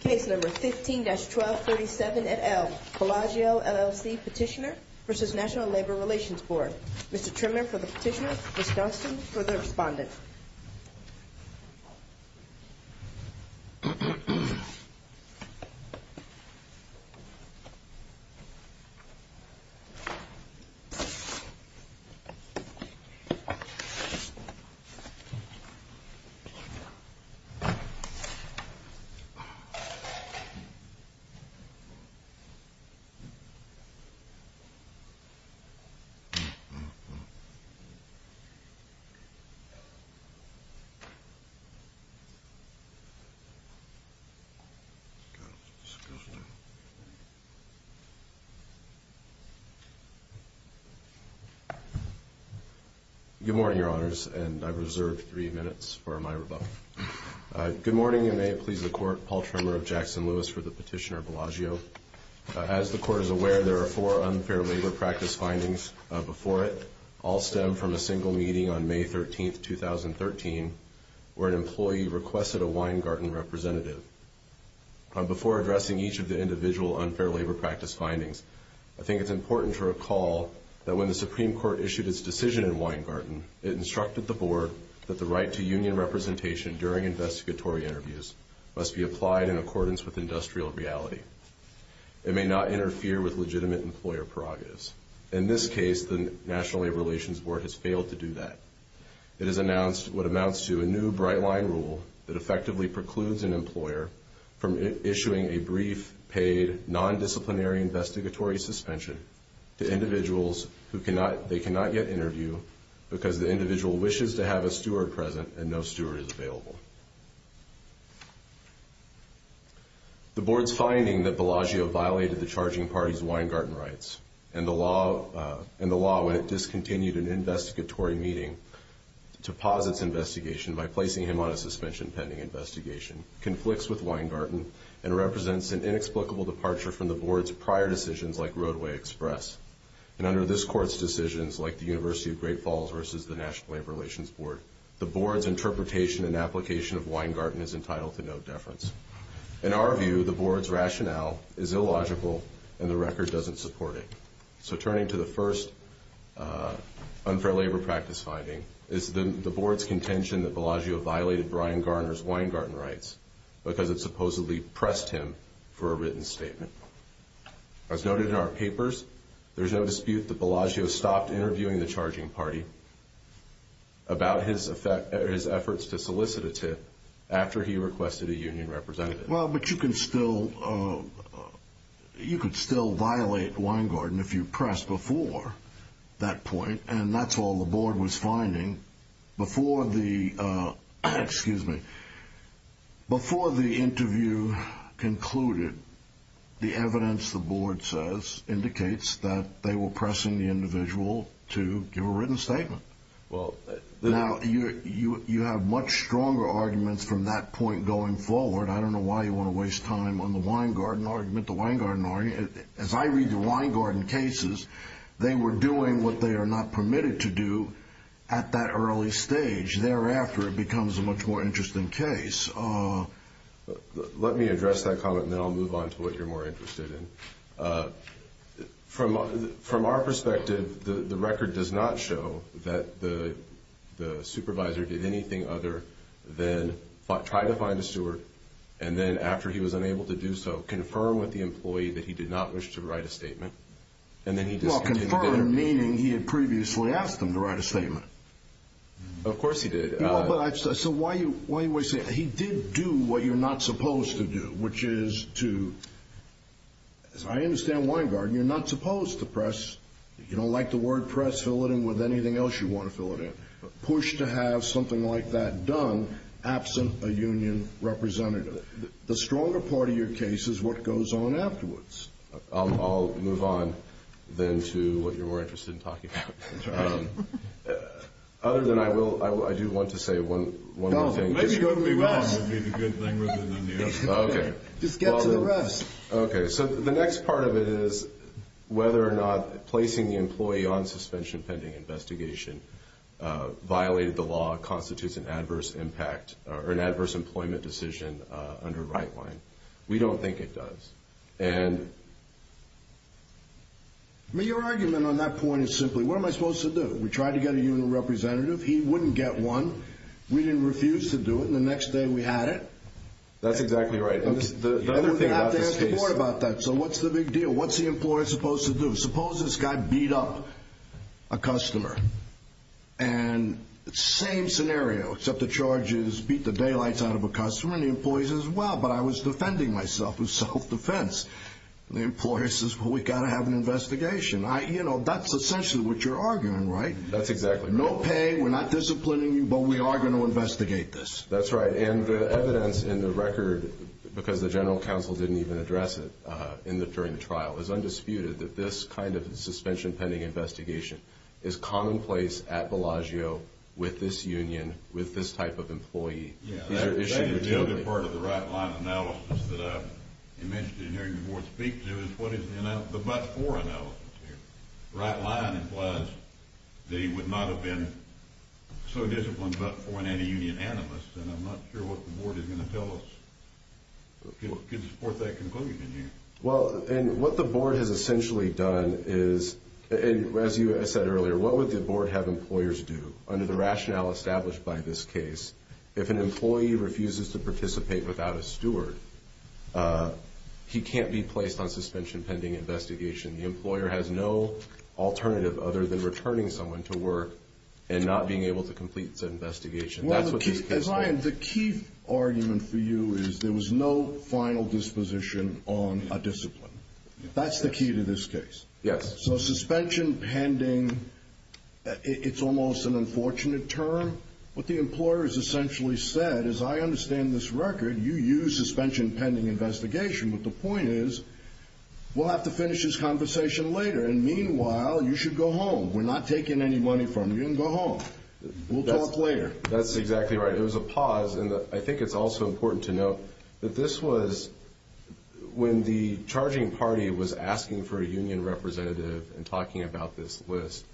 Case No. 15-1237 et al. Bellagio, LLC Petitioner v. National Labor Relations Board Mr. Trimmer for the petitioner, Ms. Johnston for the respondent Good morning, your honors, and I reserve three minutes for my rebuttal. Good morning, and may it please the Court, Paul Trimmer of Jackson-Lewis for the petitioner, Bellagio. As the Court is aware, there are four unfair labor practice findings before it, all stemmed from a single meeting on May 13, 2013, where an employee requested a Weingarten representative. Before addressing each of the individual unfair labor practice findings, I think it's important to recall that when the Supreme Court issued its decision in Weingarten, it instructed the Board that the right to union representation during investigatory interviews must be applied in accordance with industrial reality. It may not interfere with legitimate employer prerogatives. In this case, the National Labor Relations Board has failed to do that. It has announced what amounts to a new bright-line rule that effectively precludes an employer from issuing a brief, paid, non-disciplinary investigatory suspension to individuals who wishes to have a steward present and no steward is available. The Board's finding that Bellagio violated the charging party's Weingarten rights and the law when it discontinued an investigatory meeting to pause its investigation by placing him on a suspension pending investigation conflicts with Weingarten and represents an inexplicable departure from the Board's prior decisions like Roadway Express and under this The Board's interpretation and application of Weingarten is entitled to no deference. In our view, the Board's rationale is illogical and the record doesn't support it. So turning to the first unfair labor practice finding, it's the Board's contention that Bellagio violated Brian Garner's Weingarten rights because it supposedly pressed him for a written statement. As noted in our papers, there's no dispute that Bellagio stopped interviewing the charging party about his efforts to solicit a tip after he requested a union representative. Well, but you can still violate Weingarten if you press before that point and that's all the Board was finding. Before the interview concluded, the evidence the Board says indicates that they were pressing the individual to give a written statement. Now, you have much stronger arguments from that point going forward. I don't know why you want to waste time on the Weingarten argument. As I read the Weingarten cases, they were doing what they are not permitted to do at that early stage. Thereafter, it becomes a much more interesting case. Let me address that comment and then I'll move on to what you're more interested in. From our perspective, the record does not show that the supervisor did anything other than try to find a steward and then after he was unable to do so, confirm with the employee that he did not wish to write a statement. Well, confirm meaning he had previously asked him to write a statement. Of course he did. He did do what you're not supposed to do, which is to, as I understand Weingarten, you're not supposed to press. You don't like the word press, fill it in with anything else you want to fill it in. Push to have something like that done absent a union representative. The stronger part of your case is what goes on afterwards. I'll move on then to what you're more interested in talking about. Other than I will, I do want to say one more thing. No, maybe go to the rest. That would be the good thing rather than the other. Okay. Just get to the rest. Okay, so the next part of it is whether or not placing the employee on suspension pending investigation violated the law, constitutes an adverse impact or an adverse employment decision under Rightline. We don't think it does. Your argument on that point is simply, what am I supposed to do? We tried to get a union representative. He wouldn't get one. We didn't refuse to do it. And the next day we had it. That's exactly right. The other thing about this case. We're going to have to ask the board about that. So what's the big deal? What's the employer supposed to do? Suppose this guy beat up a customer and same scenario, except the charges beat the daylights out of a customer and the employees as well. But I was defending myself in self-defense. The employer says, well, we've got to have an investigation. That's essentially what you're arguing, right? That's exactly right. No pay. We're not disciplining you, but we are going to investigate this. That's right. And the evidence in the record, because the general counsel didn't even address it during the trial, is undisputed that this kind of suspension pending investigation is commonplace at Bellagio with this union, with this type of employee. The other part of the right line analysis that you mentioned in hearing the board speak to is what is the but-for analysis here. The right line implies that he would not have been so disciplined but-for an anti-union animus, and I'm not sure what the board is going to tell us to support that conclusion here. Well, and what the board has essentially done is, and as you said earlier, what would the employee refuses to participate without a steward, he can't be placed on suspension pending investigation. The employer has no alternative other than returning someone to work and not being able to complete the investigation. Well, the key argument for you is there was no final disposition on a discipline. That's the key to this case. Yes. So suspension pending, it's almost an unfortunate term. What the employer has essentially said is, I understand this record, you use suspension pending investigation. But the point is, we'll have to finish this conversation later, and meanwhile, you should go home. We're not taking any money from you, and go home. We'll talk later. That's exactly right. It was a pause, and I think it's also important to note that this was when the charging party was asking for a union representative and talking about this list.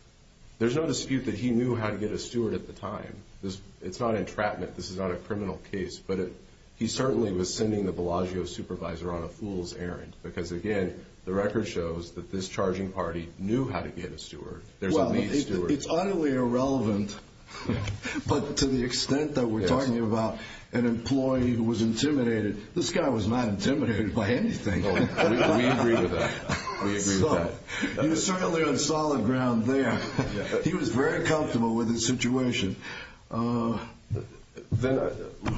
There's no dispute that he knew how to get a steward at the time. It's not entrapment. This is not a criminal case, but he certainly was sending the Bellagio supervisor on a fool's errand, because again, the record shows that this charging party knew how to get a steward. There's a lead steward. It's utterly irrelevant, but to the extent that we're talking about an employee who was intimidated, this guy was not intimidated by anything. We agree with that. We agree with that. He was certainly on solid ground there. He was very comfortable with his situation. The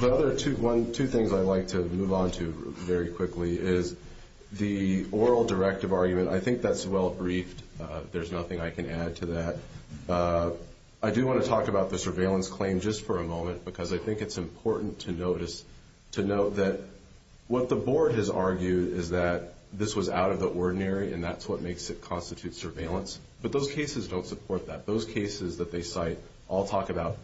other two things I'd like to move on to very quickly is the oral directive argument. I think that's well briefed. There's nothing I can add to that. I do want to talk about the surveillance claim just for a moment, because I think it's important to note that what the board has argued is that this was out of the ordinary, and that's what makes it constitute surveillance. But those cases don't support that. Those cases that they cite all talk about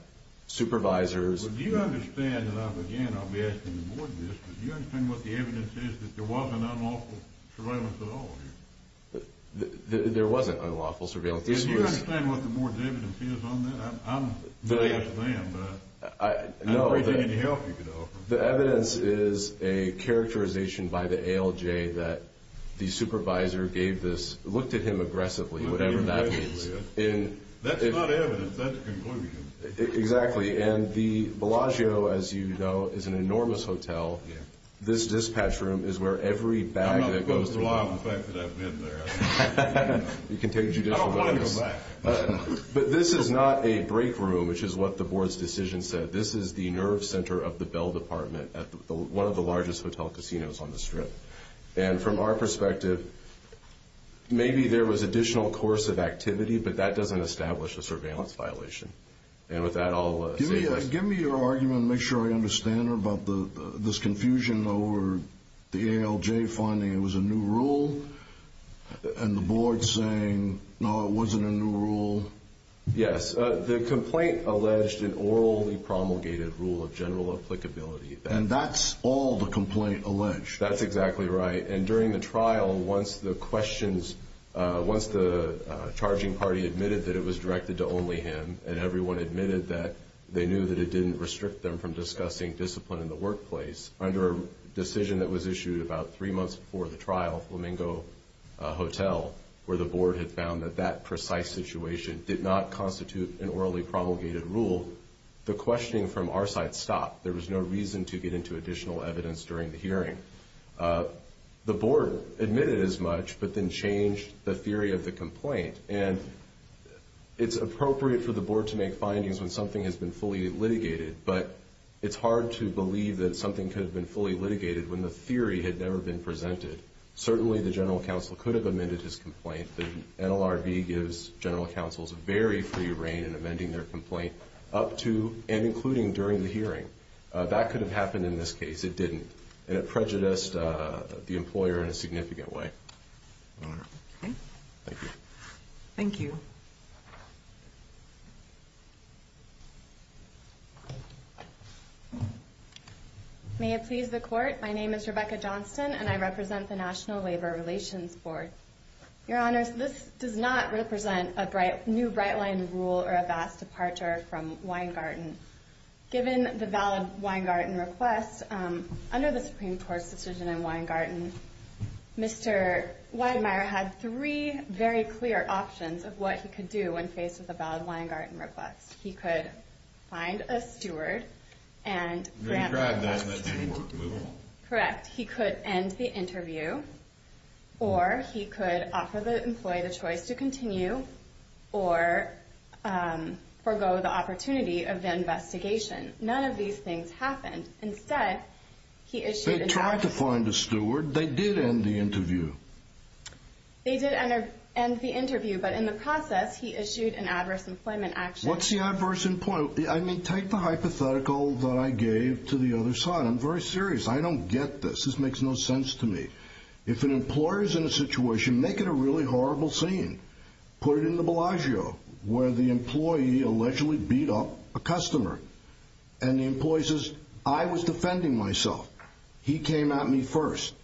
supervisors. Do you understand, and again, I'll be asking the board this, but do you understand what the evidence is that there wasn't unlawful surveillance at all here? There wasn't unlawful surveillance. Do you understand what the board's evidence is on that? I'm very much a fan, but I don't think there's any help you could offer. The evidence is a characterization by the ALJ that the supervisor gave this, looked at him aggressively, whatever that means. That's not evidence. That's a conclusion. Exactly. And the Bellagio, as you know, is an enormous hotel. This dispatch room is where every bag that goes through. I'm not going to lie on the fact that I've been there. You can take judicial notice. I don't want to go back. But this is not a break room, which is what the board's decision said. This is the nerve center of the Bell Department at one of the largest hotel casinos on the strip. And from our perspective, maybe there was additional course of activity, but that doesn't establish a surveillance violation. And with that, I'll say this. Give me your argument and make sure I understand her about this confusion over the ALJ finding it was a new rule and the board saying, no, it wasn't a new rule. Yes. The complaint alleged an orally promulgated rule of general applicability. And that's all the complaint alleged. That's exactly right. And during the trial, once the questions, once the charging party admitted that it was directed to only him and everyone admitted that they knew that it didn't restrict them from discussing discipline in the workplace under a decision that was issued about three precise situation did not constitute an orally promulgated rule. The questioning from our side stopped. There was no reason to get into additional evidence during the hearing. The board admitted as much, but then changed the theory of the complaint. And it's appropriate for the board to make findings when something has been fully litigated. But it's hard to believe that something could have been fully litigated when the theory had never been presented. Certainly, the general counsel could have amended his complaint. The NLRB gives general counsels very free reign in amending their complaint up to and including during the hearing. That could have happened in this case. It didn't. And it prejudiced the employer in a significant way. All right. Okay. Thank you. Thank you. May it please the court. My name is Rebecca Johnston, and I represent the National Labor Relations Board. Your Honors, this does not represent a new bright-line rule or a vast departure from Weingarten. Given the valid Weingarten request, under the Supreme Court's decision in Weingarten, Mr. Weidmeier had three very clear options of what he could do when faced with a valid Weingarten request. He could find a steward and grant the interview. Correct. He could end the interview, or he could offer the employee the choice to continue or forego the opportunity of the investigation. None of these things happened. Instead, he issued an adverse employment action. They tried to find a steward. They did end the interview. They did end the interview, but in the process, he issued an adverse employment action. What's the adverse employment? I mean, take the hypothetical that I gave to the other side. I'm very serious. I don't get this. This makes no sense to me. If an employer's in a situation, make it a really horrible scene. Put it in the Bellagio, where the employee allegedly beat up a customer. And the employee says, I was defending myself. He came at me first.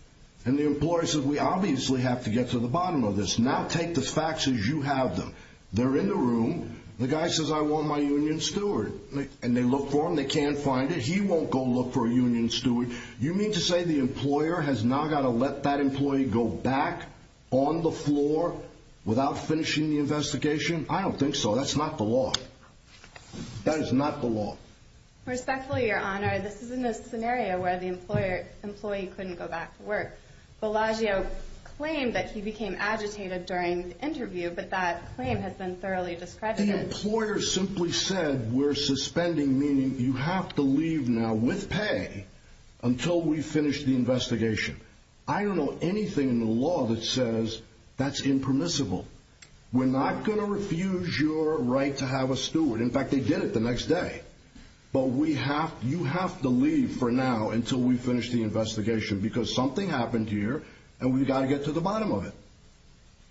And the employer says, we obviously have to get to the bottom of this. Now take the facts as you have them. They're in the room. The guy says, I want my union steward. And they look for him. They can't find it. He won't go look for a union steward. You mean to say the employer has now got to let that employee go back on the floor without finishing the investigation? I don't think so. That's not the law. That is not the law. Respectfully, Your Honor, this is in a scenario where the employee couldn't go back to work. Bellagio claimed that he became agitated during the interview, but that claim has been thoroughly discredited. The employer simply said, we're suspending, meaning you have to leave now with pay until we finish the investigation. I don't know anything in the law that says that's impermissible. We're not going to refuse your right to have a steward. In fact, they did it the next day. But you have to leave for now until we finish the investigation because something happened here, and we've got to get to the bottom of it.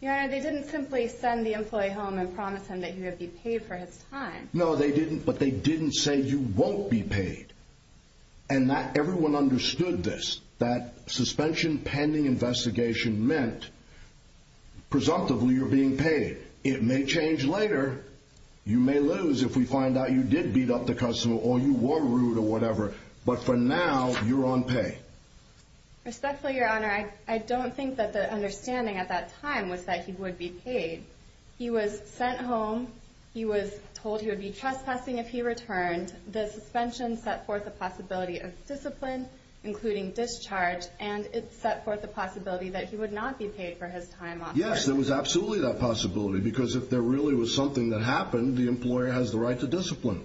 Your Honor, they didn't simply send the employee home and promise him that he would be paid for his time. No, they didn't. But they didn't say you won't be paid. And everyone understood this, that suspension pending investigation meant, presumptively, you're being paid. It may change later. You may lose if we find out you did beat up the customer or you were rude or whatever. But for now, you're on pay. Respectfully, Your Honor, I don't think that the understanding at that time was that he would be paid. He was sent home. He was told he would be trespassing if he returned. The suspension set forth the possibility of discipline, including discharge, and it set forth the possibility that he would not be paid for his time. Yes, there was absolutely that possibility because if there really was something that happened, the employer has the right to discipline.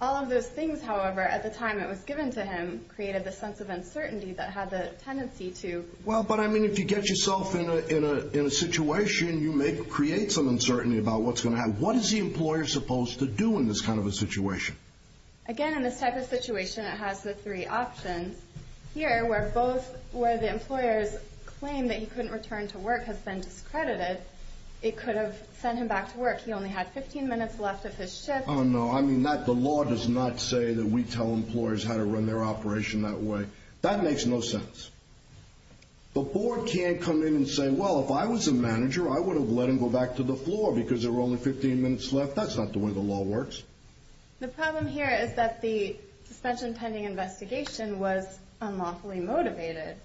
All of those things, however, at the time it was given to him, created the sense of uncertainty that had the tendency to— Well, but, I mean, if you get yourself in a situation, you may create some uncertainty about what's going to happen. What is the employer supposed to do in this kind of a situation? Again, in this type of situation, it has the three options. Here, where both—where the employer's claim that he couldn't return to work has been discredited, it could have sent him back to work. He only had 15 minutes left of his shift. Oh, no. I mean, the law does not say that we tell employers how to run their operation that way. That makes no sense. The board can't come in and say, well, if I was a manager, I would have let him go back to the floor because there were only 15 minutes left. That's not the way the law works. The problem here is that the suspension pending investigation was unlawfully motivated.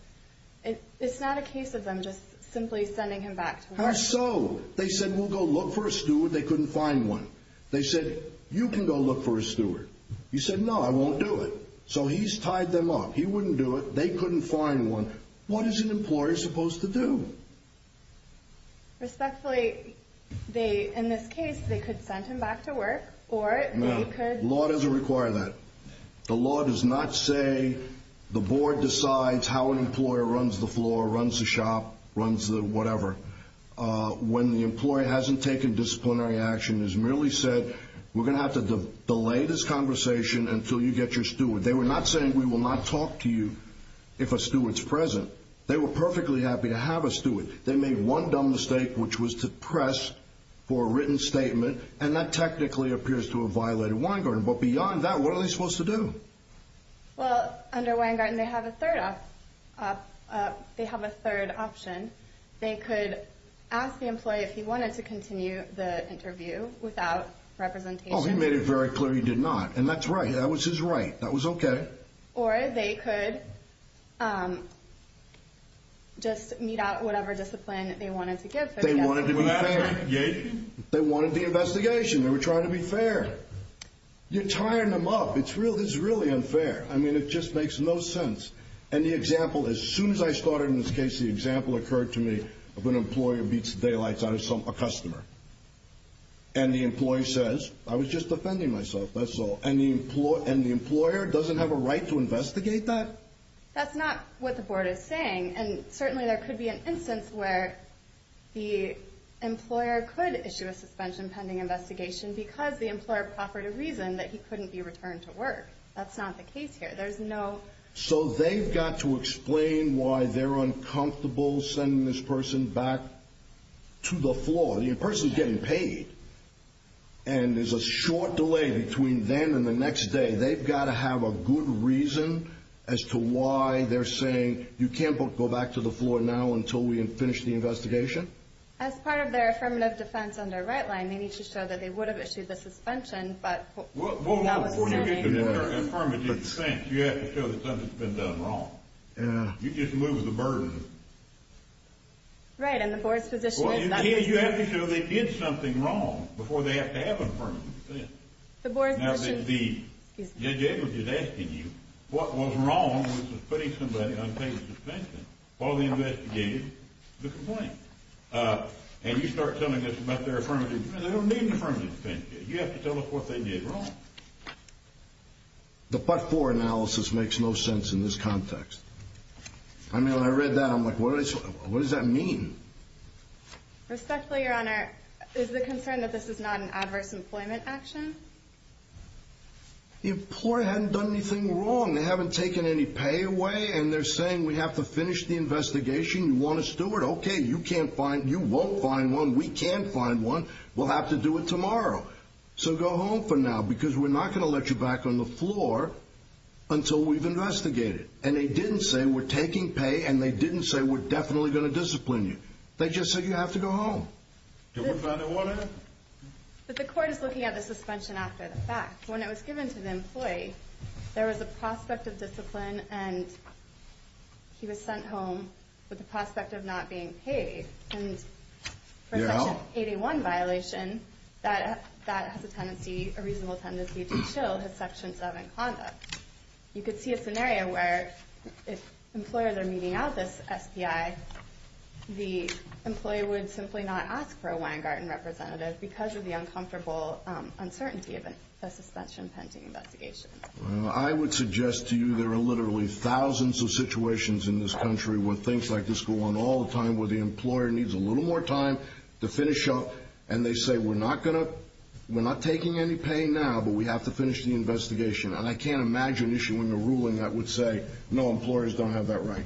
It's not a case of them just simply sending him back to work. How so? They said, we'll go look for a steward. They couldn't find one. They said, you can go look for a steward. You said, no, I won't do it. So he's tied them up. He wouldn't do it. They couldn't find one. What is an employer supposed to do? Respectfully, in this case, they could send him back to work or they could... No. The law doesn't require that. The law does not say the board decides how an employer runs the floor, runs the shop, runs the whatever. When the employer hasn't taken disciplinary action, has merely said, we're going to have to delay this conversation until you get your steward. They were not saying, we will not talk to you if a steward's present. They were perfectly happy to have a steward. They made one dumb mistake, which was to press for a written statement. And that technically appears to have violated Weingarten. But beyond that, what are they supposed to do? Well, under Weingarten, they have a third option. They could ask the employee if he wanted to continue the interview without representation. Oh, he made it very clear he did not. And that's right. That was his right. That was okay. Or they could just meet out whatever discipline they wanted to give. They wanted to be fair. They wanted the investigation. They were trying to be fair. You're tiring them up. It's really unfair. I mean, it just makes no sense. And the example, as soon as I started in this case, the example occurred to me of an employer beats the daylights out of a customer. And the employee says, I was just defending myself, that's all. And the employer doesn't have a right to investigate that? That's not what the board is saying. And certainly there could be an instance where the employer could issue a suspension pending investigation because the employer proffered a reason that he couldn't be returned to work. That's not the case here. There's no... So they've got to explain why they're uncomfortable sending this person back to the floor. The person's getting paid. And there's a short delay between then and the next day. They've got to have a good reason as to why they're saying, you can't go back to the floor now until we finish the investigation? As part of their affirmative defense on their right line, they need to show that they would have issued the suspension, but... Well, before you get the affirmative defense, you have to show that something's been done wrong. Yeah. You just move the burden. Right. And the board's position is that... You have to show they did something wrong before they have to have an affirmative defense. The board's position... Now, the judge is asking you what was wrong with putting somebody on paid suspension while they investigated the complaint. And you start telling us about their affirmative defense. They don't need an affirmative defense case. You have to tell us what they did wrong. The part four analysis makes no sense in this context. I mean, when I read that, I'm like, what does that mean? Respectfully, your honor, is the concern that this is not an adverse employment action? The employer hadn't done anything wrong. They haven't taken any pay away, and they're saying we have to finish the investigation. You want a steward? Okay, you can't find... You won't find one. We can find one. We'll have to do it tomorrow. So go home for now, because we're not going to let you back on the floor until we've investigated. And they didn't say we're taking pay, and they didn't say we're definitely going to discipline you. They just said you have to go home. Can we find a warrant? But the court is looking at the suspension after the fact. When it was given to the employee, there was a prospect of discipline, and he was sent home with the prospect of not being paid. And for a Section 81 violation, that has a tendency, a reasonable tendency, to chill his Section 7 conduct. You could see a scenario where if employers are meeting out this SPI, the employee would simply not ask for a Weingarten representative because of the uncomfortable uncertainty of a suspension pending investigation. I would suggest to you there are literally thousands of situations in this country where things like this go on all the time, where the employer needs a little more time to finish up, and they say we're not going to... we're not taking any pay now, but we have to finish the investigation. And I can't imagine issuing a ruling that would say, no, employers don't have that right.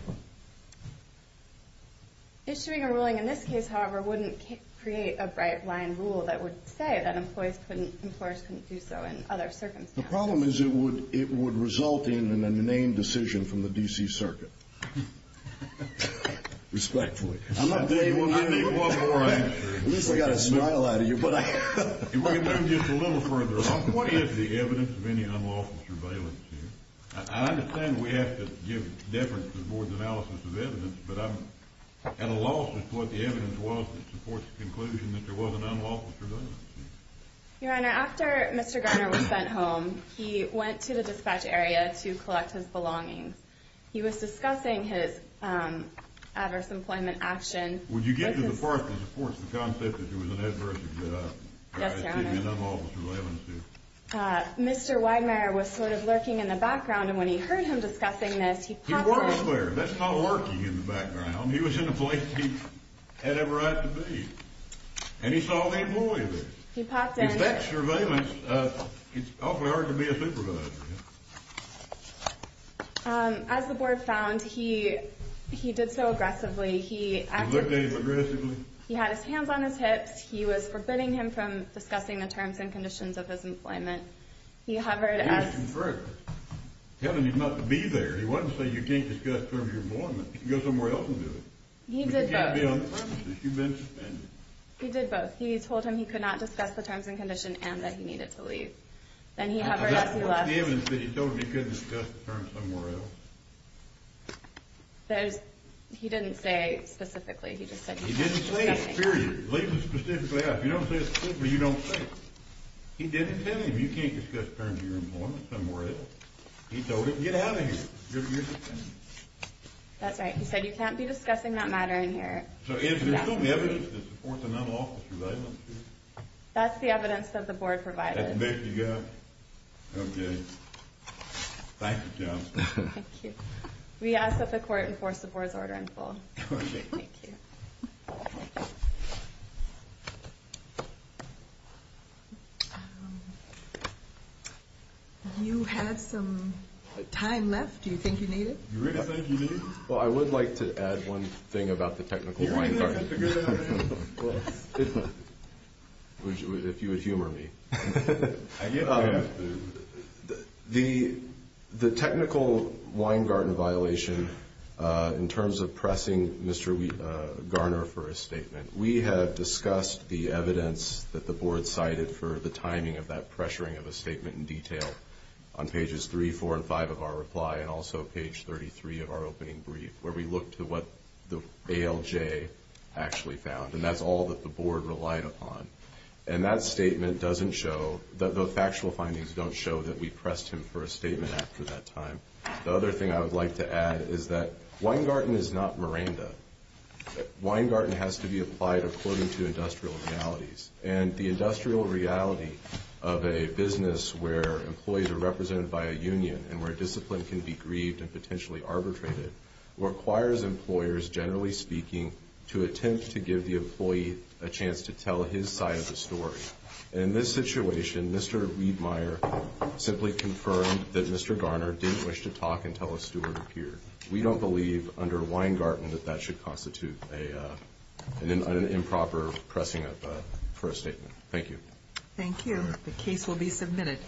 Issuing a ruling in this case, however, wouldn't create a bright line rule that would say that employers couldn't do so in other circumstances. The problem is it would result in an inane decision from the D.C. Circuit. Respectfully. I'm not saying we'll get any one more answer. At least I got a smile out of you. If we could move just a little further along, what is the evidence of any unlawful surveillance here? I understand we have to give deference to the Board's analysis of evidence, but I'm at a loss as to what the evidence was that supports the conclusion that there wasn't unlawful surveillance here. Your Honor, after Mr. Garner was sent home, he went to the dispatch area to collect his belongings. He was discussing his adverse employment action. Would you get to the part that supports the concept that there was an adverse employment action? Yes, Your Honor. Mr. Weidmayer was sort of lurking in the background, and when he heard him discussing this, he popped in. He wasn't there. That's not lurking in the background. He was in a place he had every right to be. And he saw the employee there. He popped in. If that's surveillance, it's awfully hard to be a supervisor. As the Board found, he did so aggressively. He looked at him aggressively? He had his hands on his hips. He was forbidding him from discussing the terms and conditions of his employment. He hovered. You asked him first. Tell him he's not to be there. He wasn't saying you can't discuss terms of your employment. You can go somewhere else and do it. He did both. But you can't be on the premises. You've been suspended. He did both. He told him he could not discuss the terms and conditions and that he needed to leave. Then he hovered as he left. What's the evidence that he told him he couldn't discuss the terms somewhere else? He didn't say specifically. He just said you can't discuss them. He didn't say it, period. Leave him specifically out. If you don't say it specifically, you don't say it. He didn't tell him you can't discuss terms of your employment somewhere else. He told him, get out of here. You're suspended. That's right. He said you can't be discussing that matter in here. So is there still evidence to support the non-lawful surveillance here? That's the evidence that the Board provided. That's the best you got? Okay. Thank you, John. Thank you. We ask that the Court enforce the Board's order in full. Okay. Thank you. You have some time left. Do you think you need it? You really think you need it? Well, I would like to add one thing about the technical wine garden. You really think you have to go down there? Well, if you would humor me. I guess I have to. The technical wine garden violation, in terms of pressing Mr. Garner for a statement, we have discussed the evidence that the Board cited for the timing of that pressuring of a statement in detail on pages 3, 4, and 5 of our reply, and also page 33 of our opening brief, where we looked at what the ALJ actually found. And that's all that the Board relied upon. And that statement doesn't show, the factual findings don't show that we pressed him for a statement after that time. The other thing I would like to add is that wine garden is not Miranda. Wine garden has to be applied according to industrial realities. And the industrial reality of a business where employees are represented by a union and where discipline can be grieved and potentially arbitrated requires employers, generally speaking, to attempt to give the employee a chance to tell his side of the story. In this situation, Mr. Riedmeier simply confirmed that Mr. Garner didn't wish to talk until a steward appeared. We don't believe under wine garden that that should constitute an improper pressing for a statement. Thank you. Thank you. The case will be submitted.